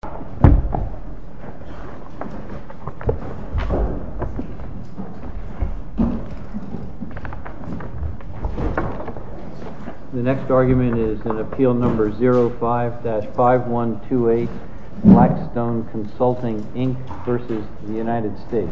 The next argument is in Appeal No. 05-5128, Blackstone Consulting Inc v. United States.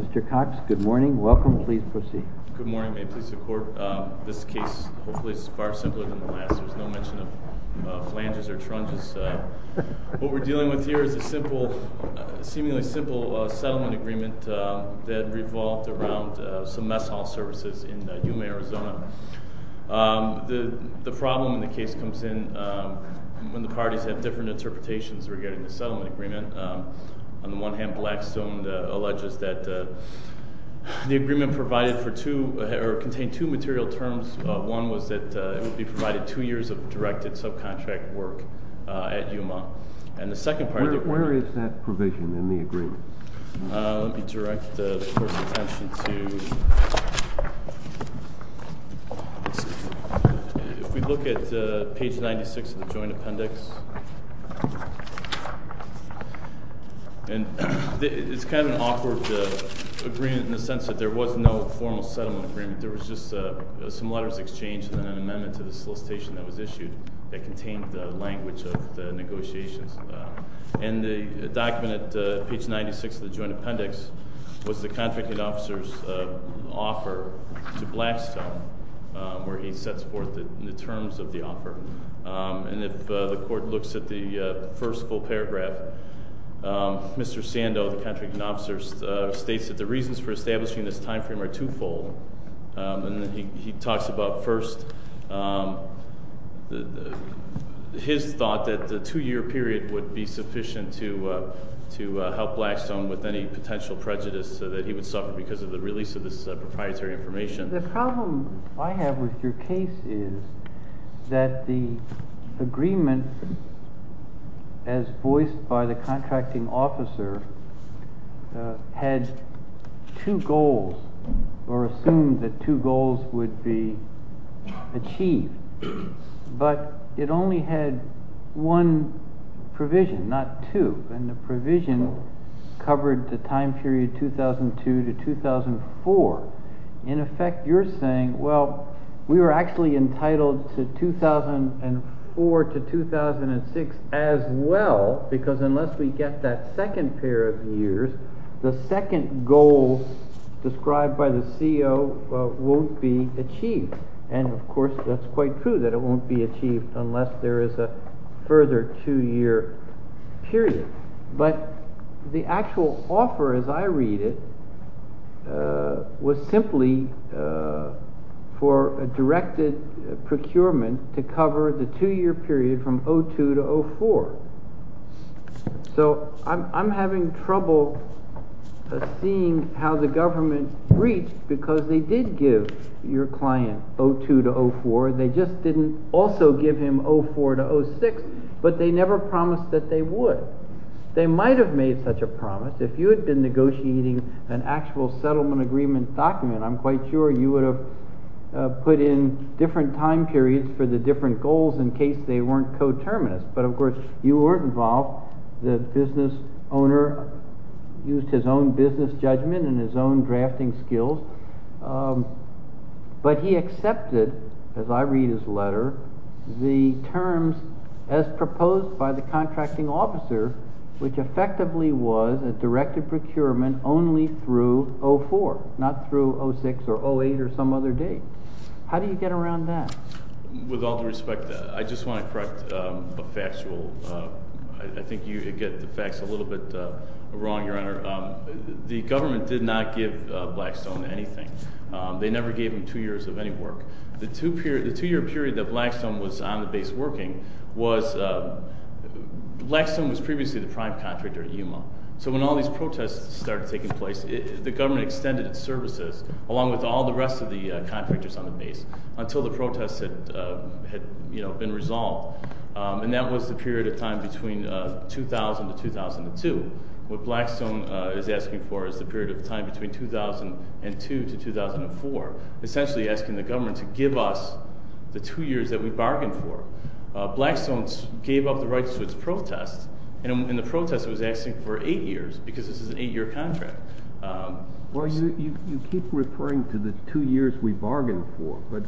Mr. Cox, good morning. Welcome. Please proceed. Good morning. May it please the Court, this case, hopefully, is far simpler than the last. There's no mention of flanges or trunches. What we're dealing with here is a seemingly simple settlement agreement that revolved around some mess hall services in Yuma, Arizona. The problem in the case comes in when the parties have different interpretations regarding the settlement agreement. On the one hand, Blackstone alleges that the agreement contained two material terms. One was that it would be provided two years of directed subcontract work at Yuma. Where is that provision in the agreement? Let me direct the Court's attention to, if we look at page 96 of the joint appendix, it's kind of an awkward agreement in the sense that there was no formal settlement agreement. There was just some letters exchanged and an amendment to the solicitation that was issued that contained the language of the negotiations. And the document at page 96 of the joint appendix was the contracting officer's offer to Blackstone, where he sets forth the terms of the offer. And if the Court looks at the first full paragraph, Mr. Sando, the contracting officer, states that the reasons for establishing this time frame are twofold. He talks about first his thought that the two-year period would be sufficient to help Blackstone with any potential prejudice so that he would suffer because of the release of this proprietary information. The problem I have with your case is that the agreement, as voiced by the contracting officer, had two goals or assumed that two goals would be achieved. But it only had one provision, not two, and the provision covered the time period 2002 to 2004. In effect, you're saying, well, we were actually entitled to 2004 to 2006 as well, because unless we get that second pair of years, the second goal described by the CEO won't be achieved. And, of course, that's quite true, that it won't be achieved unless there is a further two-year period. But the actual offer, as I read it, was simply for a directed procurement to cover the two-year period from 2002 to 2004. So I'm having trouble seeing how the government reached, because they did give your client 2002 to 2004. They just didn't also give him 2004 to 2006, but they never promised that they would. They might have made such a promise if you had been negotiating an actual settlement agreement document. I'm quite sure you would have put in different time periods for the different goals in case they weren't coterminous. But, of course, you weren't involved. The business owner used his own business judgment and his own drafting skills. But he accepted, as I read his letter, the terms as proposed by the contracting officer, which effectively was a directed procurement only through 2004, not through 2006 or 2008 or some other date. How do you get around that? With all due respect, I just want to correct a factual – I think you get the facts a little bit wrong, Your Honor. The government did not give Blackstone anything. They never gave him two years of any work. The two-year period that Blackstone was on the base working was – Blackstone was previously the prime contractor at Yuma. So when all these protests started taking place, the government extended its services along with all the rest of the contractors on the base until the protests had been resolved. And that was the period of time between 2000 to 2002. What Blackstone is asking for is the period of time between 2002 to 2004, essentially asking the government to give us the two years that we bargained for. Blackstone gave up the rights to its protests, and in the protests it was asking for eight years because this is an eight-year contract. Well, you keep referring to the two years we bargained for, but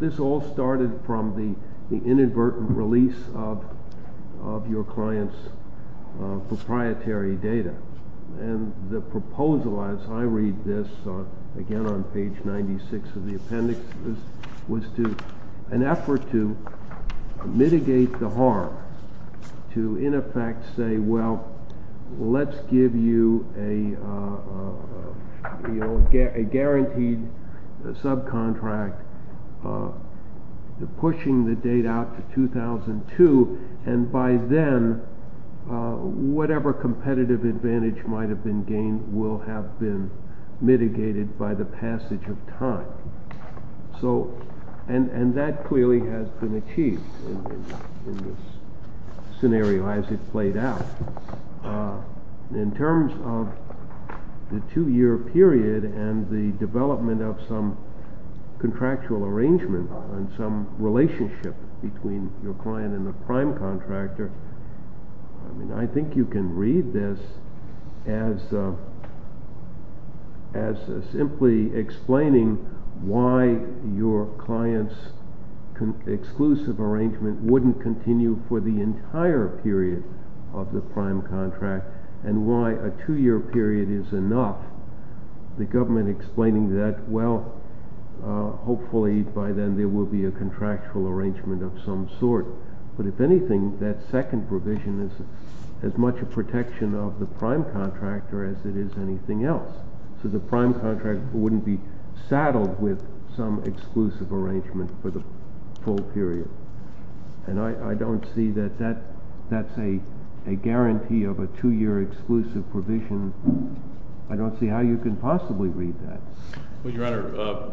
this all started from the inadvertent release of your client's proprietary data. And the proposal, as I read this, again on page 96 of the appendix, was to – an effort to mitigate the harm, to in effect say, well, let's give you a guaranteed subcontract, pushing the date out to 2002, and by then whatever competitive advantage might have been gained will have been mitigated by the passage of time. So – and that clearly has been achieved in this scenario as it played out. In terms of the two-year period and the development of some contractual arrangement and some relationship between your client and the prime contractor, I think you can read this as simply explaining why your client's exclusive arrangement wouldn't continue for the entire period of the prime contract, and why a two-year period is enough. The government explaining that, well, hopefully by then there will be a contractual arrangement of some sort, but if anything, that second provision is as much a protection of the prime contractor as it is anything else. So the prime contractor wouldn't be saddled with some exclusive arrangement for the full period. And I don't see that that's a guarantee of a two-year exclusive provision. I don't see how you can possibly read that. Well, Your Honor,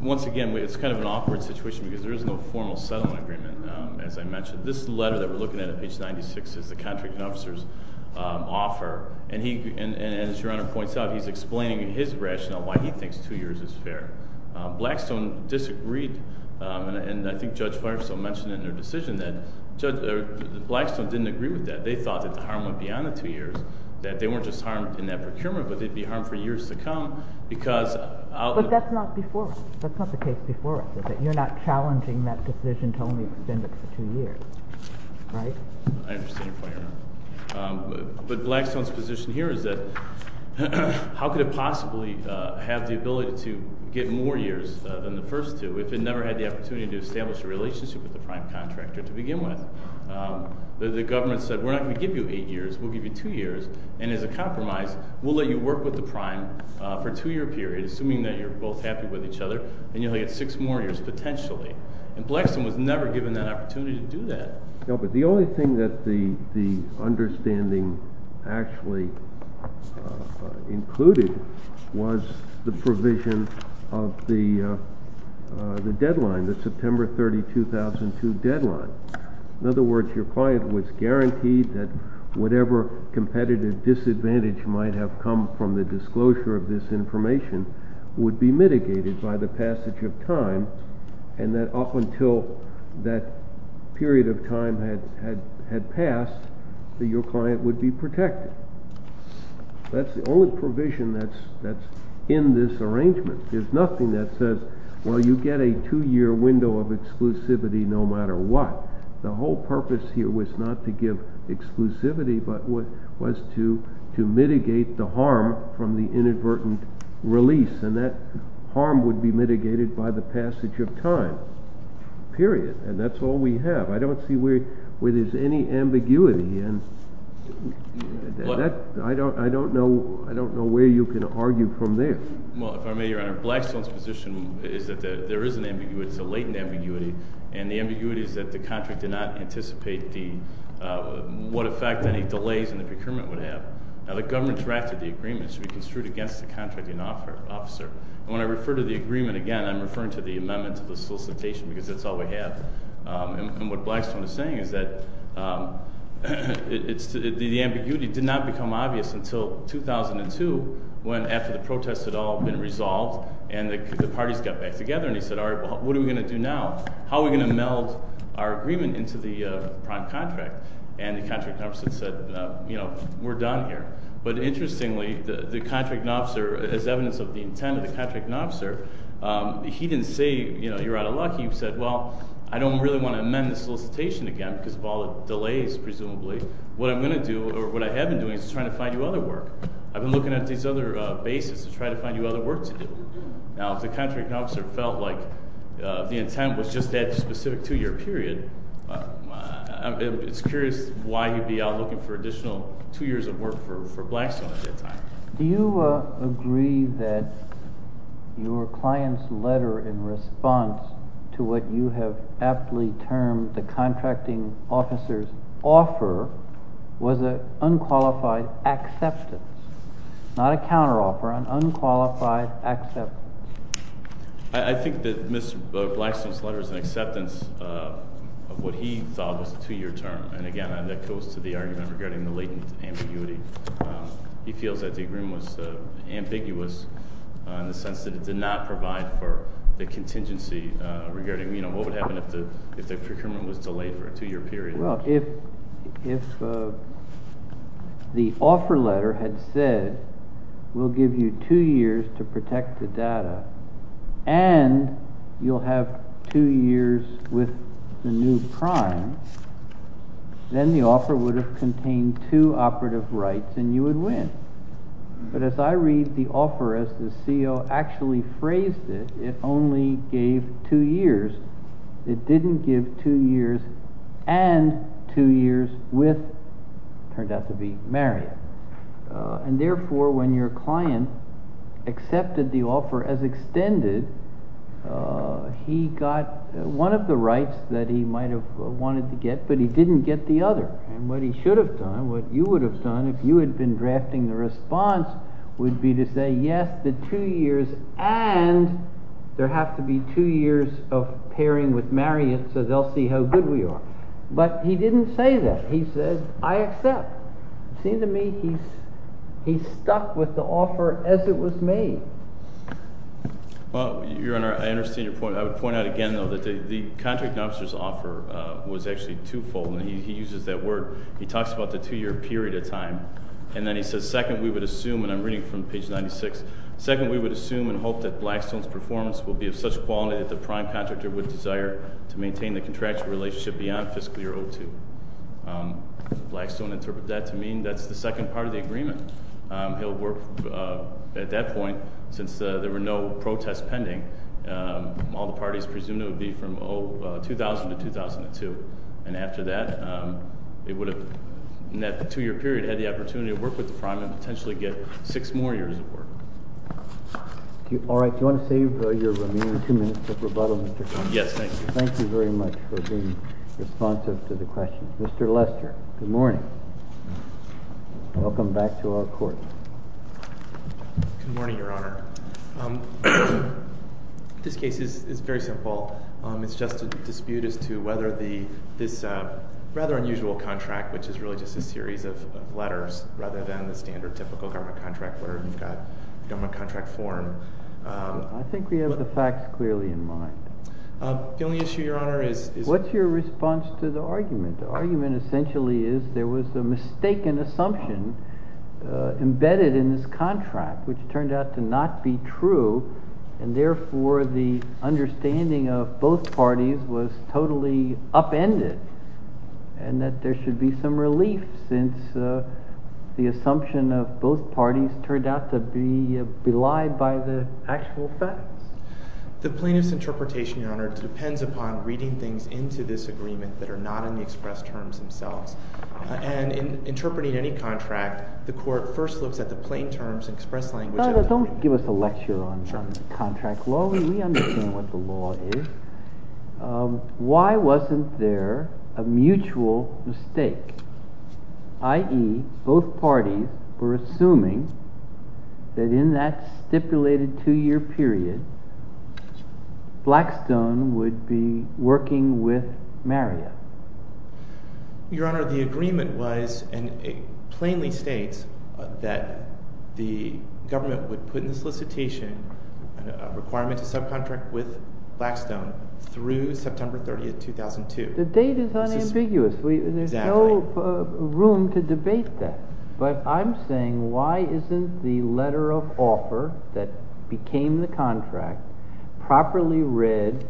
once again, it's kind of an awkward situation because there is no formal settlement agreement, as I mentioned. This letter that we're looking at on page 96 is the contracting officer's offer, and as Your Honor points out, he's explaining in his rationale why he thinks two years is fair. Blackstone disagreed, and I think Judge Firesaw mentioned in their decision that Blackstone didn't agree with that. They thought that the harm would be on the two years, that they weren't just harmed in that procurement, but they'd be harmed for years to come because... But that's not before us. That's not the case before us, is it? You're not challenging that decision to only extend it for two years, right? I understand, Your Honor. But Blackstone's position here is that how could it possibly have the ability to get more years than the first two if it never had the opportunity to establish a relationship with the prime contractor to begin with? The government said, we're not going to give you eight years. We'll give you two years. And as a compromise, we'll let you work with the prime for a two-year period, assuming that you're both happy with each other, and you'll get six more years potentially. And Blackstone was never given that opportunity to do that. No, but the only thing that the understanding actually included was the provision of the deadline, the September 30, 2002 deadline. In other words, your client was guaranteed that whatever competitive disadvantage might have come from the disclosure of this information would be mitigated by the passage of time... And that up until that period of time had passed, that your client would be protected. That's the only provision that's in this arrangement. There's nothing that says, well, you get a two-year window of exclusivity no matter what. The whole purpose here was not to give exclusivity, but was to mitigate the harm from the inadvertent release. And that harm would be mitigated by the passage of time, period. And that's all we have. I don't see where there's any ambiguity. And I don't know where you can argue from there. Well, if I may, Your Honor, Blackstone's position is that there is an ambiguity. It's a latent ambiguity. And the ambiguity is that the contract did not anticipate what effect any delays in the procurement would have. Now, the government drafted the agreement. It should be construed against the contracting officer. And when I refer to the agreement again, I'm referring to the amendment to the solicitation because that's all we have. And what Blackstone is saying is that the ambiguity did not become obvious until 2002, when after the protests had all been resolved... And the parties got back together and he said, all right, what are we going to do now? How are we going to meld our agreement into the prime contract? And the contracting officer said, you know, we're done here. But, interestingly, the contracting officer, as evidence of the intent of the contracting officer... He didn't say, you know, you're out of luck. He said, well, I don't really want to amend the solicitation again because of all the delays, presumably. What I'm going to do, or what I have been doing, is trying to find you other work. I've been looking at these other bases to try to find you other work to do. Now, if the contracting officer felt like the intent was just that specific two-year period... It's curious why he would be out looking for additional two years of work for Blackstone at that time. Do you agree that your client's letter in response to what you have aptly termed the contracting officer's offer... I think that Mr. Blackstone's letter is an acceptance of what he thought was a two-year term. And, again, that goes to the argument regarding the latent ambiguity. He feels that the agreement was ambiguous in the sense that it did not provide for the contingency... Regarding, you know, what would happen if the procurement was delayed for a two-year period. Well, if the offer letter had said, we'll give you two years to protect the data and you'll have two years with the new prime... Then, the offer would have contained two operative rights and you would win. But, as I read the offer, as the CEO actually phrased it, it only gave two years. It didn't give two years and two years with... it turned out to be Mariette. And, therefore, when your client accepted the offer as extended, he got one of the rights that he might have wanted to get, but he didn't get the other. And, what he should have done, what you would have done, if you had been drafting the response... Would be to say, yes, the two years and there have to be two years of pairing with Mariette, so they'll see how good we are. But, he didn't say that. He said, I accept. It seems to me he's stuck with the offer as it was made. Well, Your Honor, I understand your point. I would point out again, though, that the contract officer's offer was actually two-fold. And, he uses that word. He talks about the two-year period of time. And, then he says, second, we would assume, and I'm reading from page 96. Second, we would assume and hope that Blackstone's performance will be of such quality that the prime contractor would desire to maintain the contractual relationship beyond fiscal year 02. Blackstone interpreted that to mean that's the second part of the agreement. He'll work, at that point, since there were no protests pending, all the parties presumed it would be from 2000 to 2002. And, after that, it would have, in that two-year period, had the opportunity to work with the prime and potentially get six more years of work. All right. Do you want to save your remaining two minutes of rebuttal, Mr. Connolly? Yes, thank you. Thank you very much for being responsive to the questions. Mr. Lester, good morning. Welcome back to our court. Good morning, Your Honor. This case is very simple. It's just a dispute as to whether this rather unusual contract, which is really just a series of letters rather than the standard, typical government contract where you've got government contract form. I think we have the facts clearly in mind. The only issue, Your Honor, is— What's your response to the argument? The argument essentially is there was a mistaken assumption embedded in this contract, which turned out to not be true, and, therefore, the understanding of both parties was totally upended and that there should be some relief since the assumption of both parties turned out to be belied by the actual facts. The plaintiff's interpretation, Your Honor, depends upon reading things into this agreement that are not in the express terms themselves. And in interpreting any contract, the court first looks at the plain terms and express language— Don't give us a lecture on contract law. We understand what the law is. Why wasn't there a mutual mistake? I.e., both parties were assuming that in that stipulated two-year period, Blackstone would be working with Marriott. Your Honor, the agreement was and it plainly states that the government would put in the solicitation a requirement to subcontract with Blackstone through September 30, 2002. The date is unambiguous. There's no room to debate that. But I'm saying why isn't the letter of offer that became the contract properly read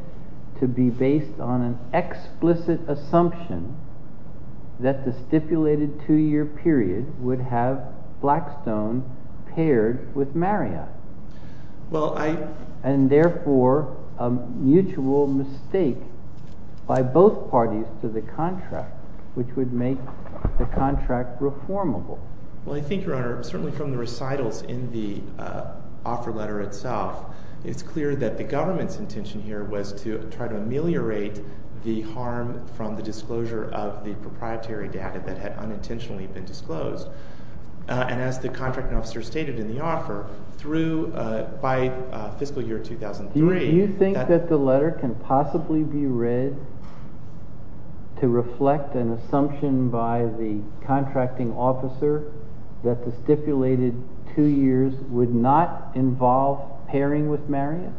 to be based on an explicit assumption that the stipulated two-year period would have Blackstone paired with Marriott? And therefore, a mutual mistake by both parties to the contract, which would make the contract reformable. Well, I think, Your Honor, certainly from the recitals in the offer letter itself, it's clear that the government's intention here was to try to ameliorate the harm from the disclosure of the proprietary data that had unintentionally been disclosed. And as the contracting officer stated in the offer, by fiscal year 2003— Do you think that the letter can possibly be read to reflect an assumption by the contracting officer that the stipulated two years would not involve pairing with Marriott?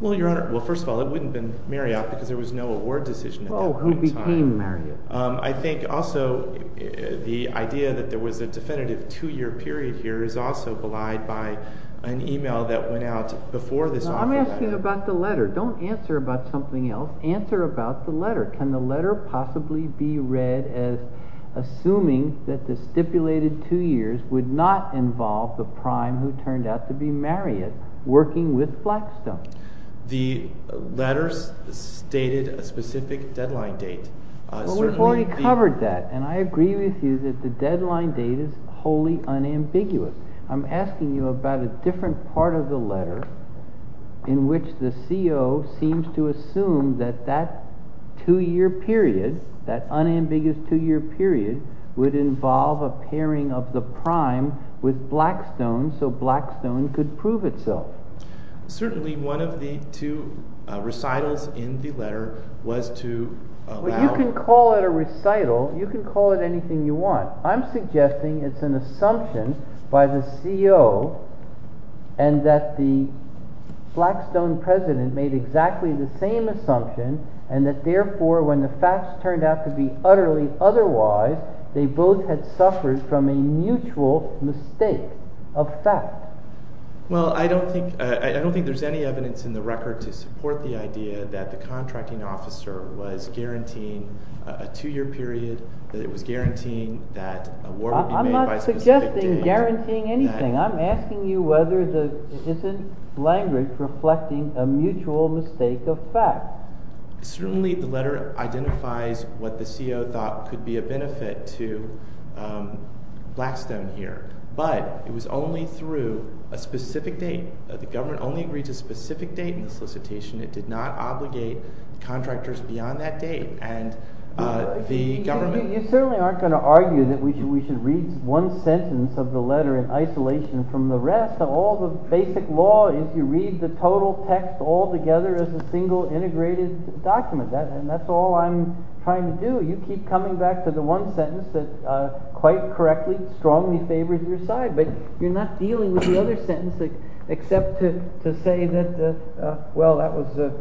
Well, Your Honor, well, first of all, it wouldn't have been Marriott because there was no award decision at that point in time. Oh, who became Marriott? I think also the idea that there was a definitive two-year period here is also belied by an email that went out before this offer letter. I'm asking about the letter. Don't answer about something else. Answer about the letter. Can the letter possibly be read as assuming that the stipulated two years would not involve the prime who turned out to be Marriott working with Blackstone? The letter stated a specific deadline date. Well, we've already covered that, and I agree with you that the deadline date is wholly unambiguous. I'm asking you about a different part of the letter in which the CO seems to assume that that two-year period, that unambiguous two-year period, would involve a pairing of the prime with Blackstone so Blackstone could prove itself. Certainly one of the two recitals in the letter was to allow… Well, you can call it a recital. You can call it anything you want. I'm suggesting it's an assumption by the CO and that the Blackstone president made exactly the same assumption and that, therefore, when the facts turned out to be utterly otherwise, they both had suffered from a mutual mistake of fact. Well, I don't think there's any evidence in the record to support the idea that the contracting officer was guaranteeing a two-year period, that it was guaranteeing that a war would be made by a specific date. I'm not suggesting guaranteeing anything. I'm asking you whether it's a language reflecting a mutual mistake of fact. Certainly the letter identifies what the CO thought could be a benefit to Blackstone here, but it was only through a specific date. The government only agreed to a specific date in the solicitation. It did not obligate contractors beyond that date. You certainly aren't going to argue that we should read one sentence of the letter in isolation from the rest. All the basic law is you read the total text altogether as a single integrated document, and that's all I'm trying to do. You keep coming back to the one sentence that quite correctly, strongly favors your side, but you're not dealing with the other sentence except to say that, well, that was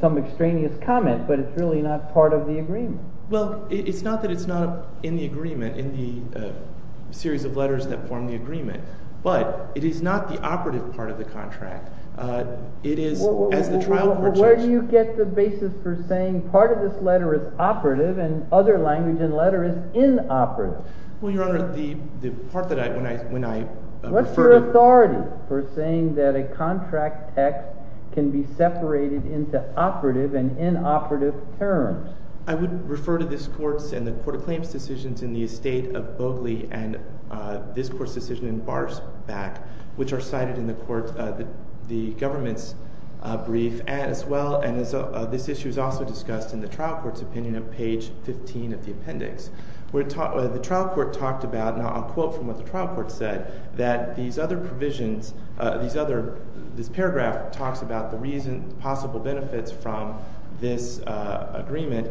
some extraneous comment, but it's really not part of the agreement. Well, it's not that it's not in the agreement, in the series of letters that form the agreement, but it is not the operative part of the contract. It is, as the trial court judge— Well, Your Honor, the part that I— What's your authority for saying that a contract text can be separated into operative and inoperative terms? I would refer to this Court's and the Court of Claims' decisions in the estate of Bogley and this Court's decision in Barr's back, which are cited in the government's brief as well, and this issue is also discussed in the trial court's opinion on page 15 of the appendix. The trial court talked about—and I'll quote from what the trial court said—that these other provisions—this paragraph talks about the reason—possible benefits from this agreement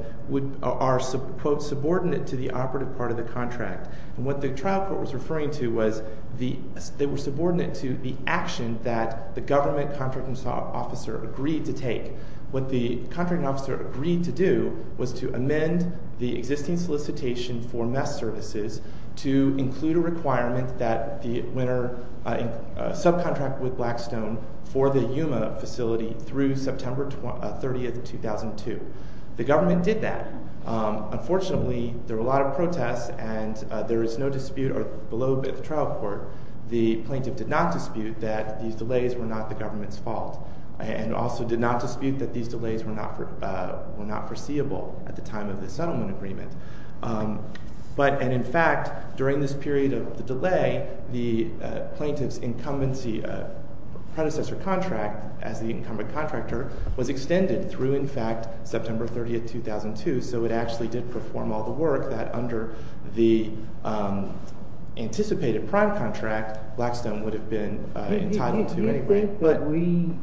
are, quote, subordinate to the operative part of the contract. And what the trial court was referring to was they were subordinate to the action that the government contracting officer agreed to take. What the contracting officer agreed to do was to amend the existing solicitation for mess services to include a requirement that the winner subcontract with Blackstone for the Yuma facility through September 30, 2002. The government did that. Unfortunately, there were a lot of protests, and there is no dispute or—below the trial court, the plaintiff did not dispute that these delays were not the government's fault and also did not dispute that these delays were not foreseeable at the time of the settlement agreement. But—and in fact, during this period of the delay, the plaintiff's incumbency predecessor contract as the incumbent contractor was extended through, in fact, September 30, 2002, so it actually did perform all the work that under the anticipated prime contract, Blackstone would have been entitled to anyway. But we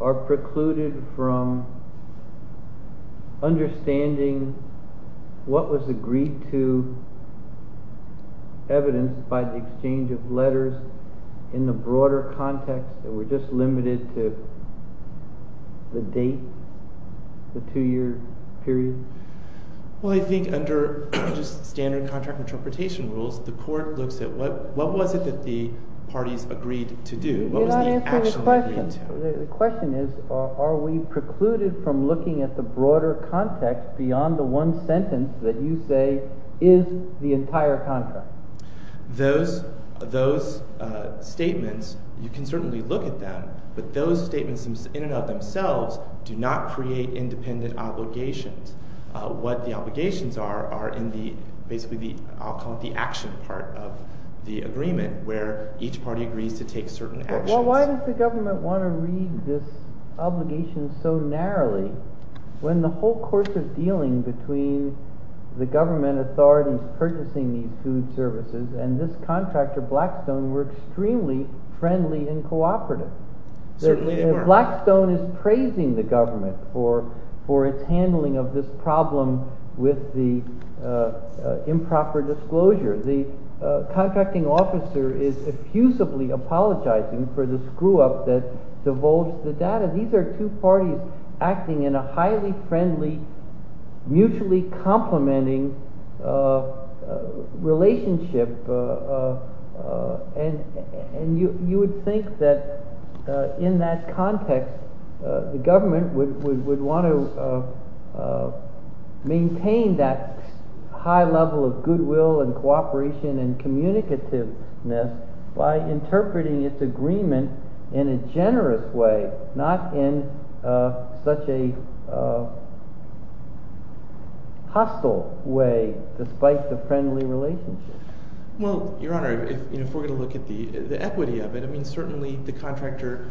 are precluded from understanding what was agreed to evidence by the exchange of letters in the broader context that we're just limited to the date, the two-year period? Well, I think under just standard contract interpretation rules, the court looks at what was it that the parties agreed to do? What was the actual agreed to? You're not answering the question. The question is, are we precluded from looking at the broader context beyond the one sentence that you say is the entire contract? Those statements, you can certainly look at them, but those statements in and of themselves do not create independent obligations. What the obligations are are in the—basically, I'll call it the action part of the agreement where each party agrees to take certain actions. Well, why does the government want to read this obligation so narrowly when the whole course of dealing between the government authorities purchasing these food services and this contractor, Blackstone, were extremely friendly and cooperative? Blackstone is praising the government for its handling of this problem with the improper disclosure. The contracting officer is effusively apologizing for the screw-up that divulged the data. These are two parties acting in a highly friendly, mutually complementing relationship, and you would think that in that context, the government would want to maintain that high level of goodwill and cooperation and communicativeness by interpreting its agreement in a generous way, not in such a hostile way despite the friendly relationship. Well, Your Honor, if we're going to look at the equity of it, I mean, certainly the contractor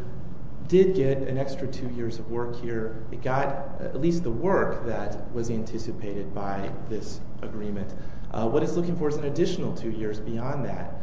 did get an extra two years of work here. It got at least the work that was anticipated by this agreement. What it's looking for is an additional two years beyond that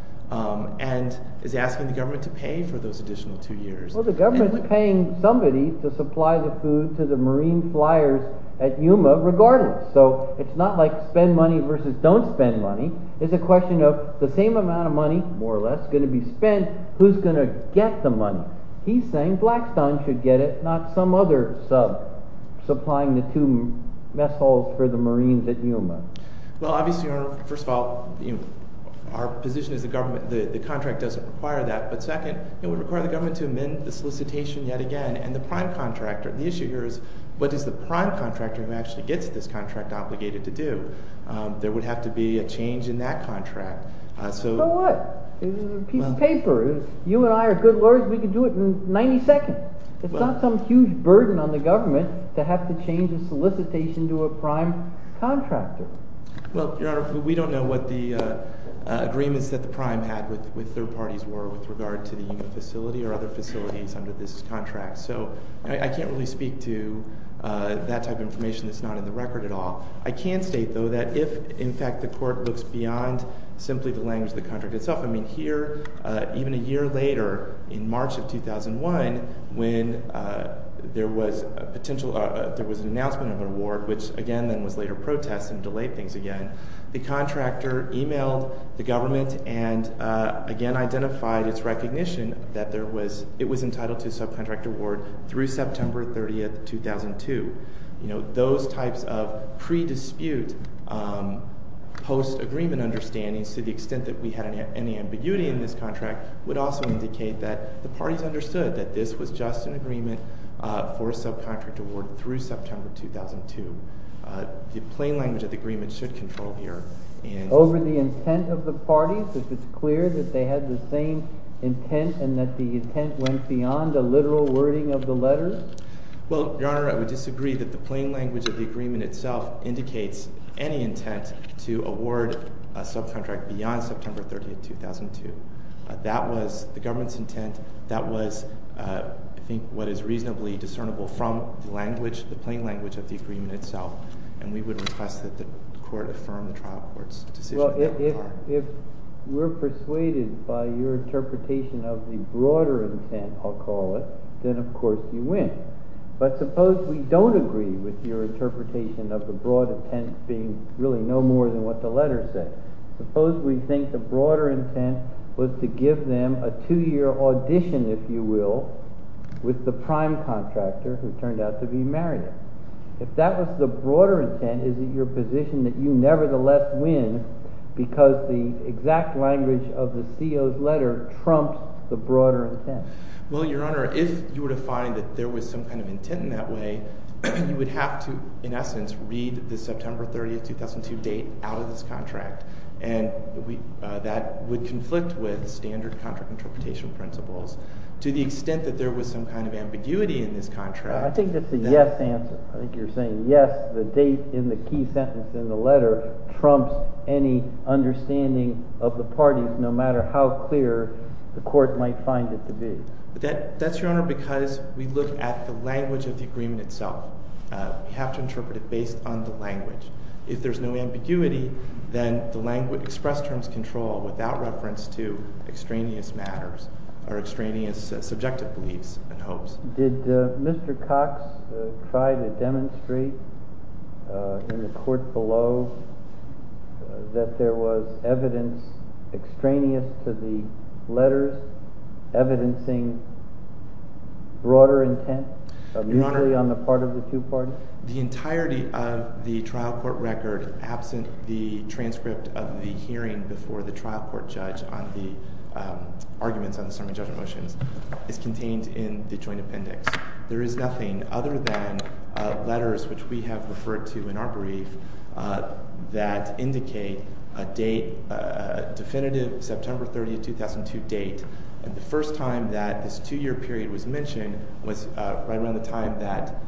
and is asking the government to pay for those additional two years. Well, the government's paying somebody to supply the food to the Marine flyers at Yuma regardless. So it's not like spend money versus don't spend money. It's a question of the same amount of money, more or less, going to be spent. Who's going to get the money? He's saying Blackstone should get it, not some other sub supplying the two mess halls for the Marines at Yuma. Well, obviously, Your Honor, first of all, our position is the contract doesn't require that. But second, it would require the government to amend the solicitation yet again, and the prime contractor. The issue here is what does the prime contractor who actually gets this contract obligated to do? There would have to be a change in that contract. So what? It's a piece of paper. You and I are good lawyers. We can do it in 90 seconds. It's not some huge burden on the government to have to change the solicitation to a prime contractor. Well, Your Honor, we don't know what the agreements that the prime had with third parties were with regard to the Yuma facility or other facilities under this contract. So I can't really speak to that type of information that's not in the record at all. I can state, though, that if, in fact, the court looks beyond simply the language of the contract itself, I mean, here, even a year later, in March of 2001, when there was an announcement of an award, which again then was later protest and delayed things again, the contractor emailed the government and again identified its recognition that it was entitled to a subcontract award through September 30, 2002. Those types of pre-dispute post-agreement understandings, to the extent that we had any ambiguity in this contract, would also indicate that the parties understood that this was just an agreement for a subcontract award through September 2002. The plain language of the agreement should control here. Over the intent of the parties, if it's clear that they had the same intent and that the intent went beyond a literal wording of the letter? Well, Your Honor, I would disagree that the plain language of the agreement itself indicates any intent to award a subcontract beyond September 30, 2002. That was the government's intent. That was, I think, what is reasonably discernible from the plain language of the agreement itself. And we would request that the court affirm the trial court's decision. Well, if we're persuaded by your interpretation of the broader intent, I'll call it, then, of course, you win. But suppose we don't agree with your interpretation of the broad intent being really no more than what the letter says. Suppose we think the broader intent was to give them a two-year audition, if you will, with the prime contractor who turned out to be Marion. If that was the broader intent, is it your position that you nevertheless win because the exact language of the CO's letter trumps the broader intent? Well, Your Honor, if you were to find that there was some kind of intent in that way, you would have to, in essence, read the September 30, 2002 date out of this contract. And that would conflict with standard contract interpretation principles to the extent that there was some kind of ambiguity in this contract. I think it's a yes answer. I think you're saying, yes, the date in the key sentence in the letter trumps any understanding of the parties, no matter how clear the court might find it to be. That's, Your Honor, because we look at the language of the agreement itself. We have to interpret it based on the language. If there's no ambiguity, then the language express terms control without reference to extraneous matters or extraneous subjective beliefs and hopes. Did Mr. Cox try to demonstrate in the court below that there was evidence extraneous to the letters, evidencing broader intent, usually on the part of the two parties? The entirety of the trial court record, absent the transcript of the hearing before the trial court judge on the arguments on the summary judgment motions, is contained in the joint appendix. There is nothing other than letters which we have referred to in our brief that indicate a definitive September 30, 2002 date. And the first time that this two-year period was mentioned was right around the time that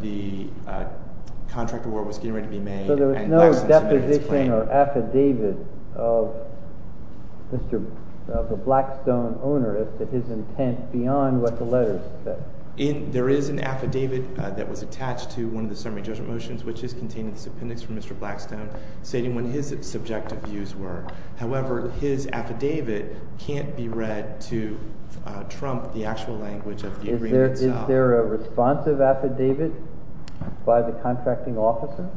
the contract award was getting ready to be made. So there was no deposition or affidavit of the Blackstone owner as to his intent beyond what the letters said? There is an affidavit that was attached to one of the summary judgment motions, which is contained in this appendix from Mr. Blackstone stating what his subjective views were. However, his affidavit can't be read to trump the actual language of the agreement itself. Is there a responsive affidavit by the contracting officer?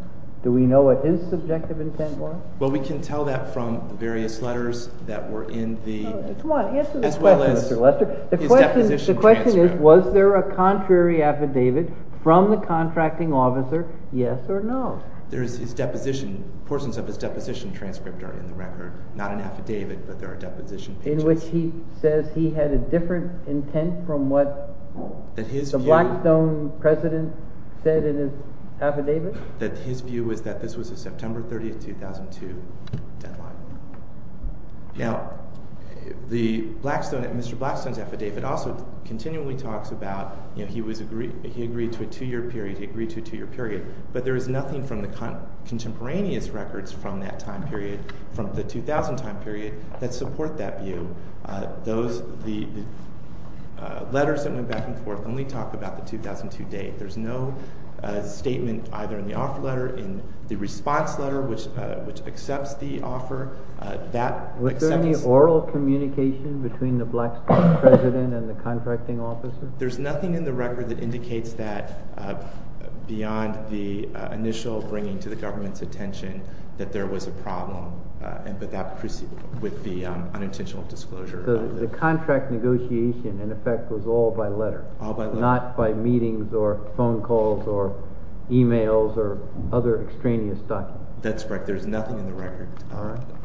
Do we know what his subjective intent was? Well, we can tell that from the various letters that were in the… Come on, answer the question, Mr. Lester. The question is, was there a contrary affidavit from the contracting officer, yes or no? There is his deposition. Portions of his deposition transcript are in the record. Not an affidavit, but there are deposition pages. In which he says he had a different intent from what the Blackstone president said in his affidavit? That his view was that this was a September 30, 2002 deadline. Now, Mr. Blackstone's affidavit also continually talks about he agreed to a two-year period, he agreed to a two-year period. But there is nothing from the contemporaneous records from that time period, from the 2000 time period, that support that view. The letters that went back and forth only talk about the 2002 date. There's no statement either in the offer letter, in the response letter, which accepts the offer. Was there any oral communication between the Blackstone president and the contracting officer? There's nothing in the record that indicates that beyond the initial bringing to the government's attention that there was a problem. With the unintentional disclosure. So the contract negotiation, in effect, was all by letter. All by letter. Not by meetings or phone calls or emails or other extraneous documents. That's correct. There's nothing in the record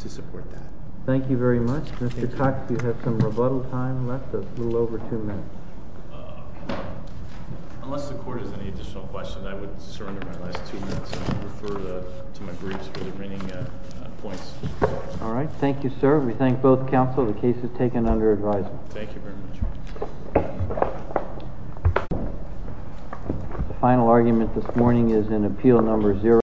to support that. Thank you very much. Mr. Cox, you have some rebuttal time left, a little over two minutes. Unless the court has any additional questions, I would surrender my last two minutes and refer to my briefs for the remaining points. All right. Thank you, sir. We thank both counsel. The case is taken under advisement. Thank you very much. The final argument this morning is in appeal number zero.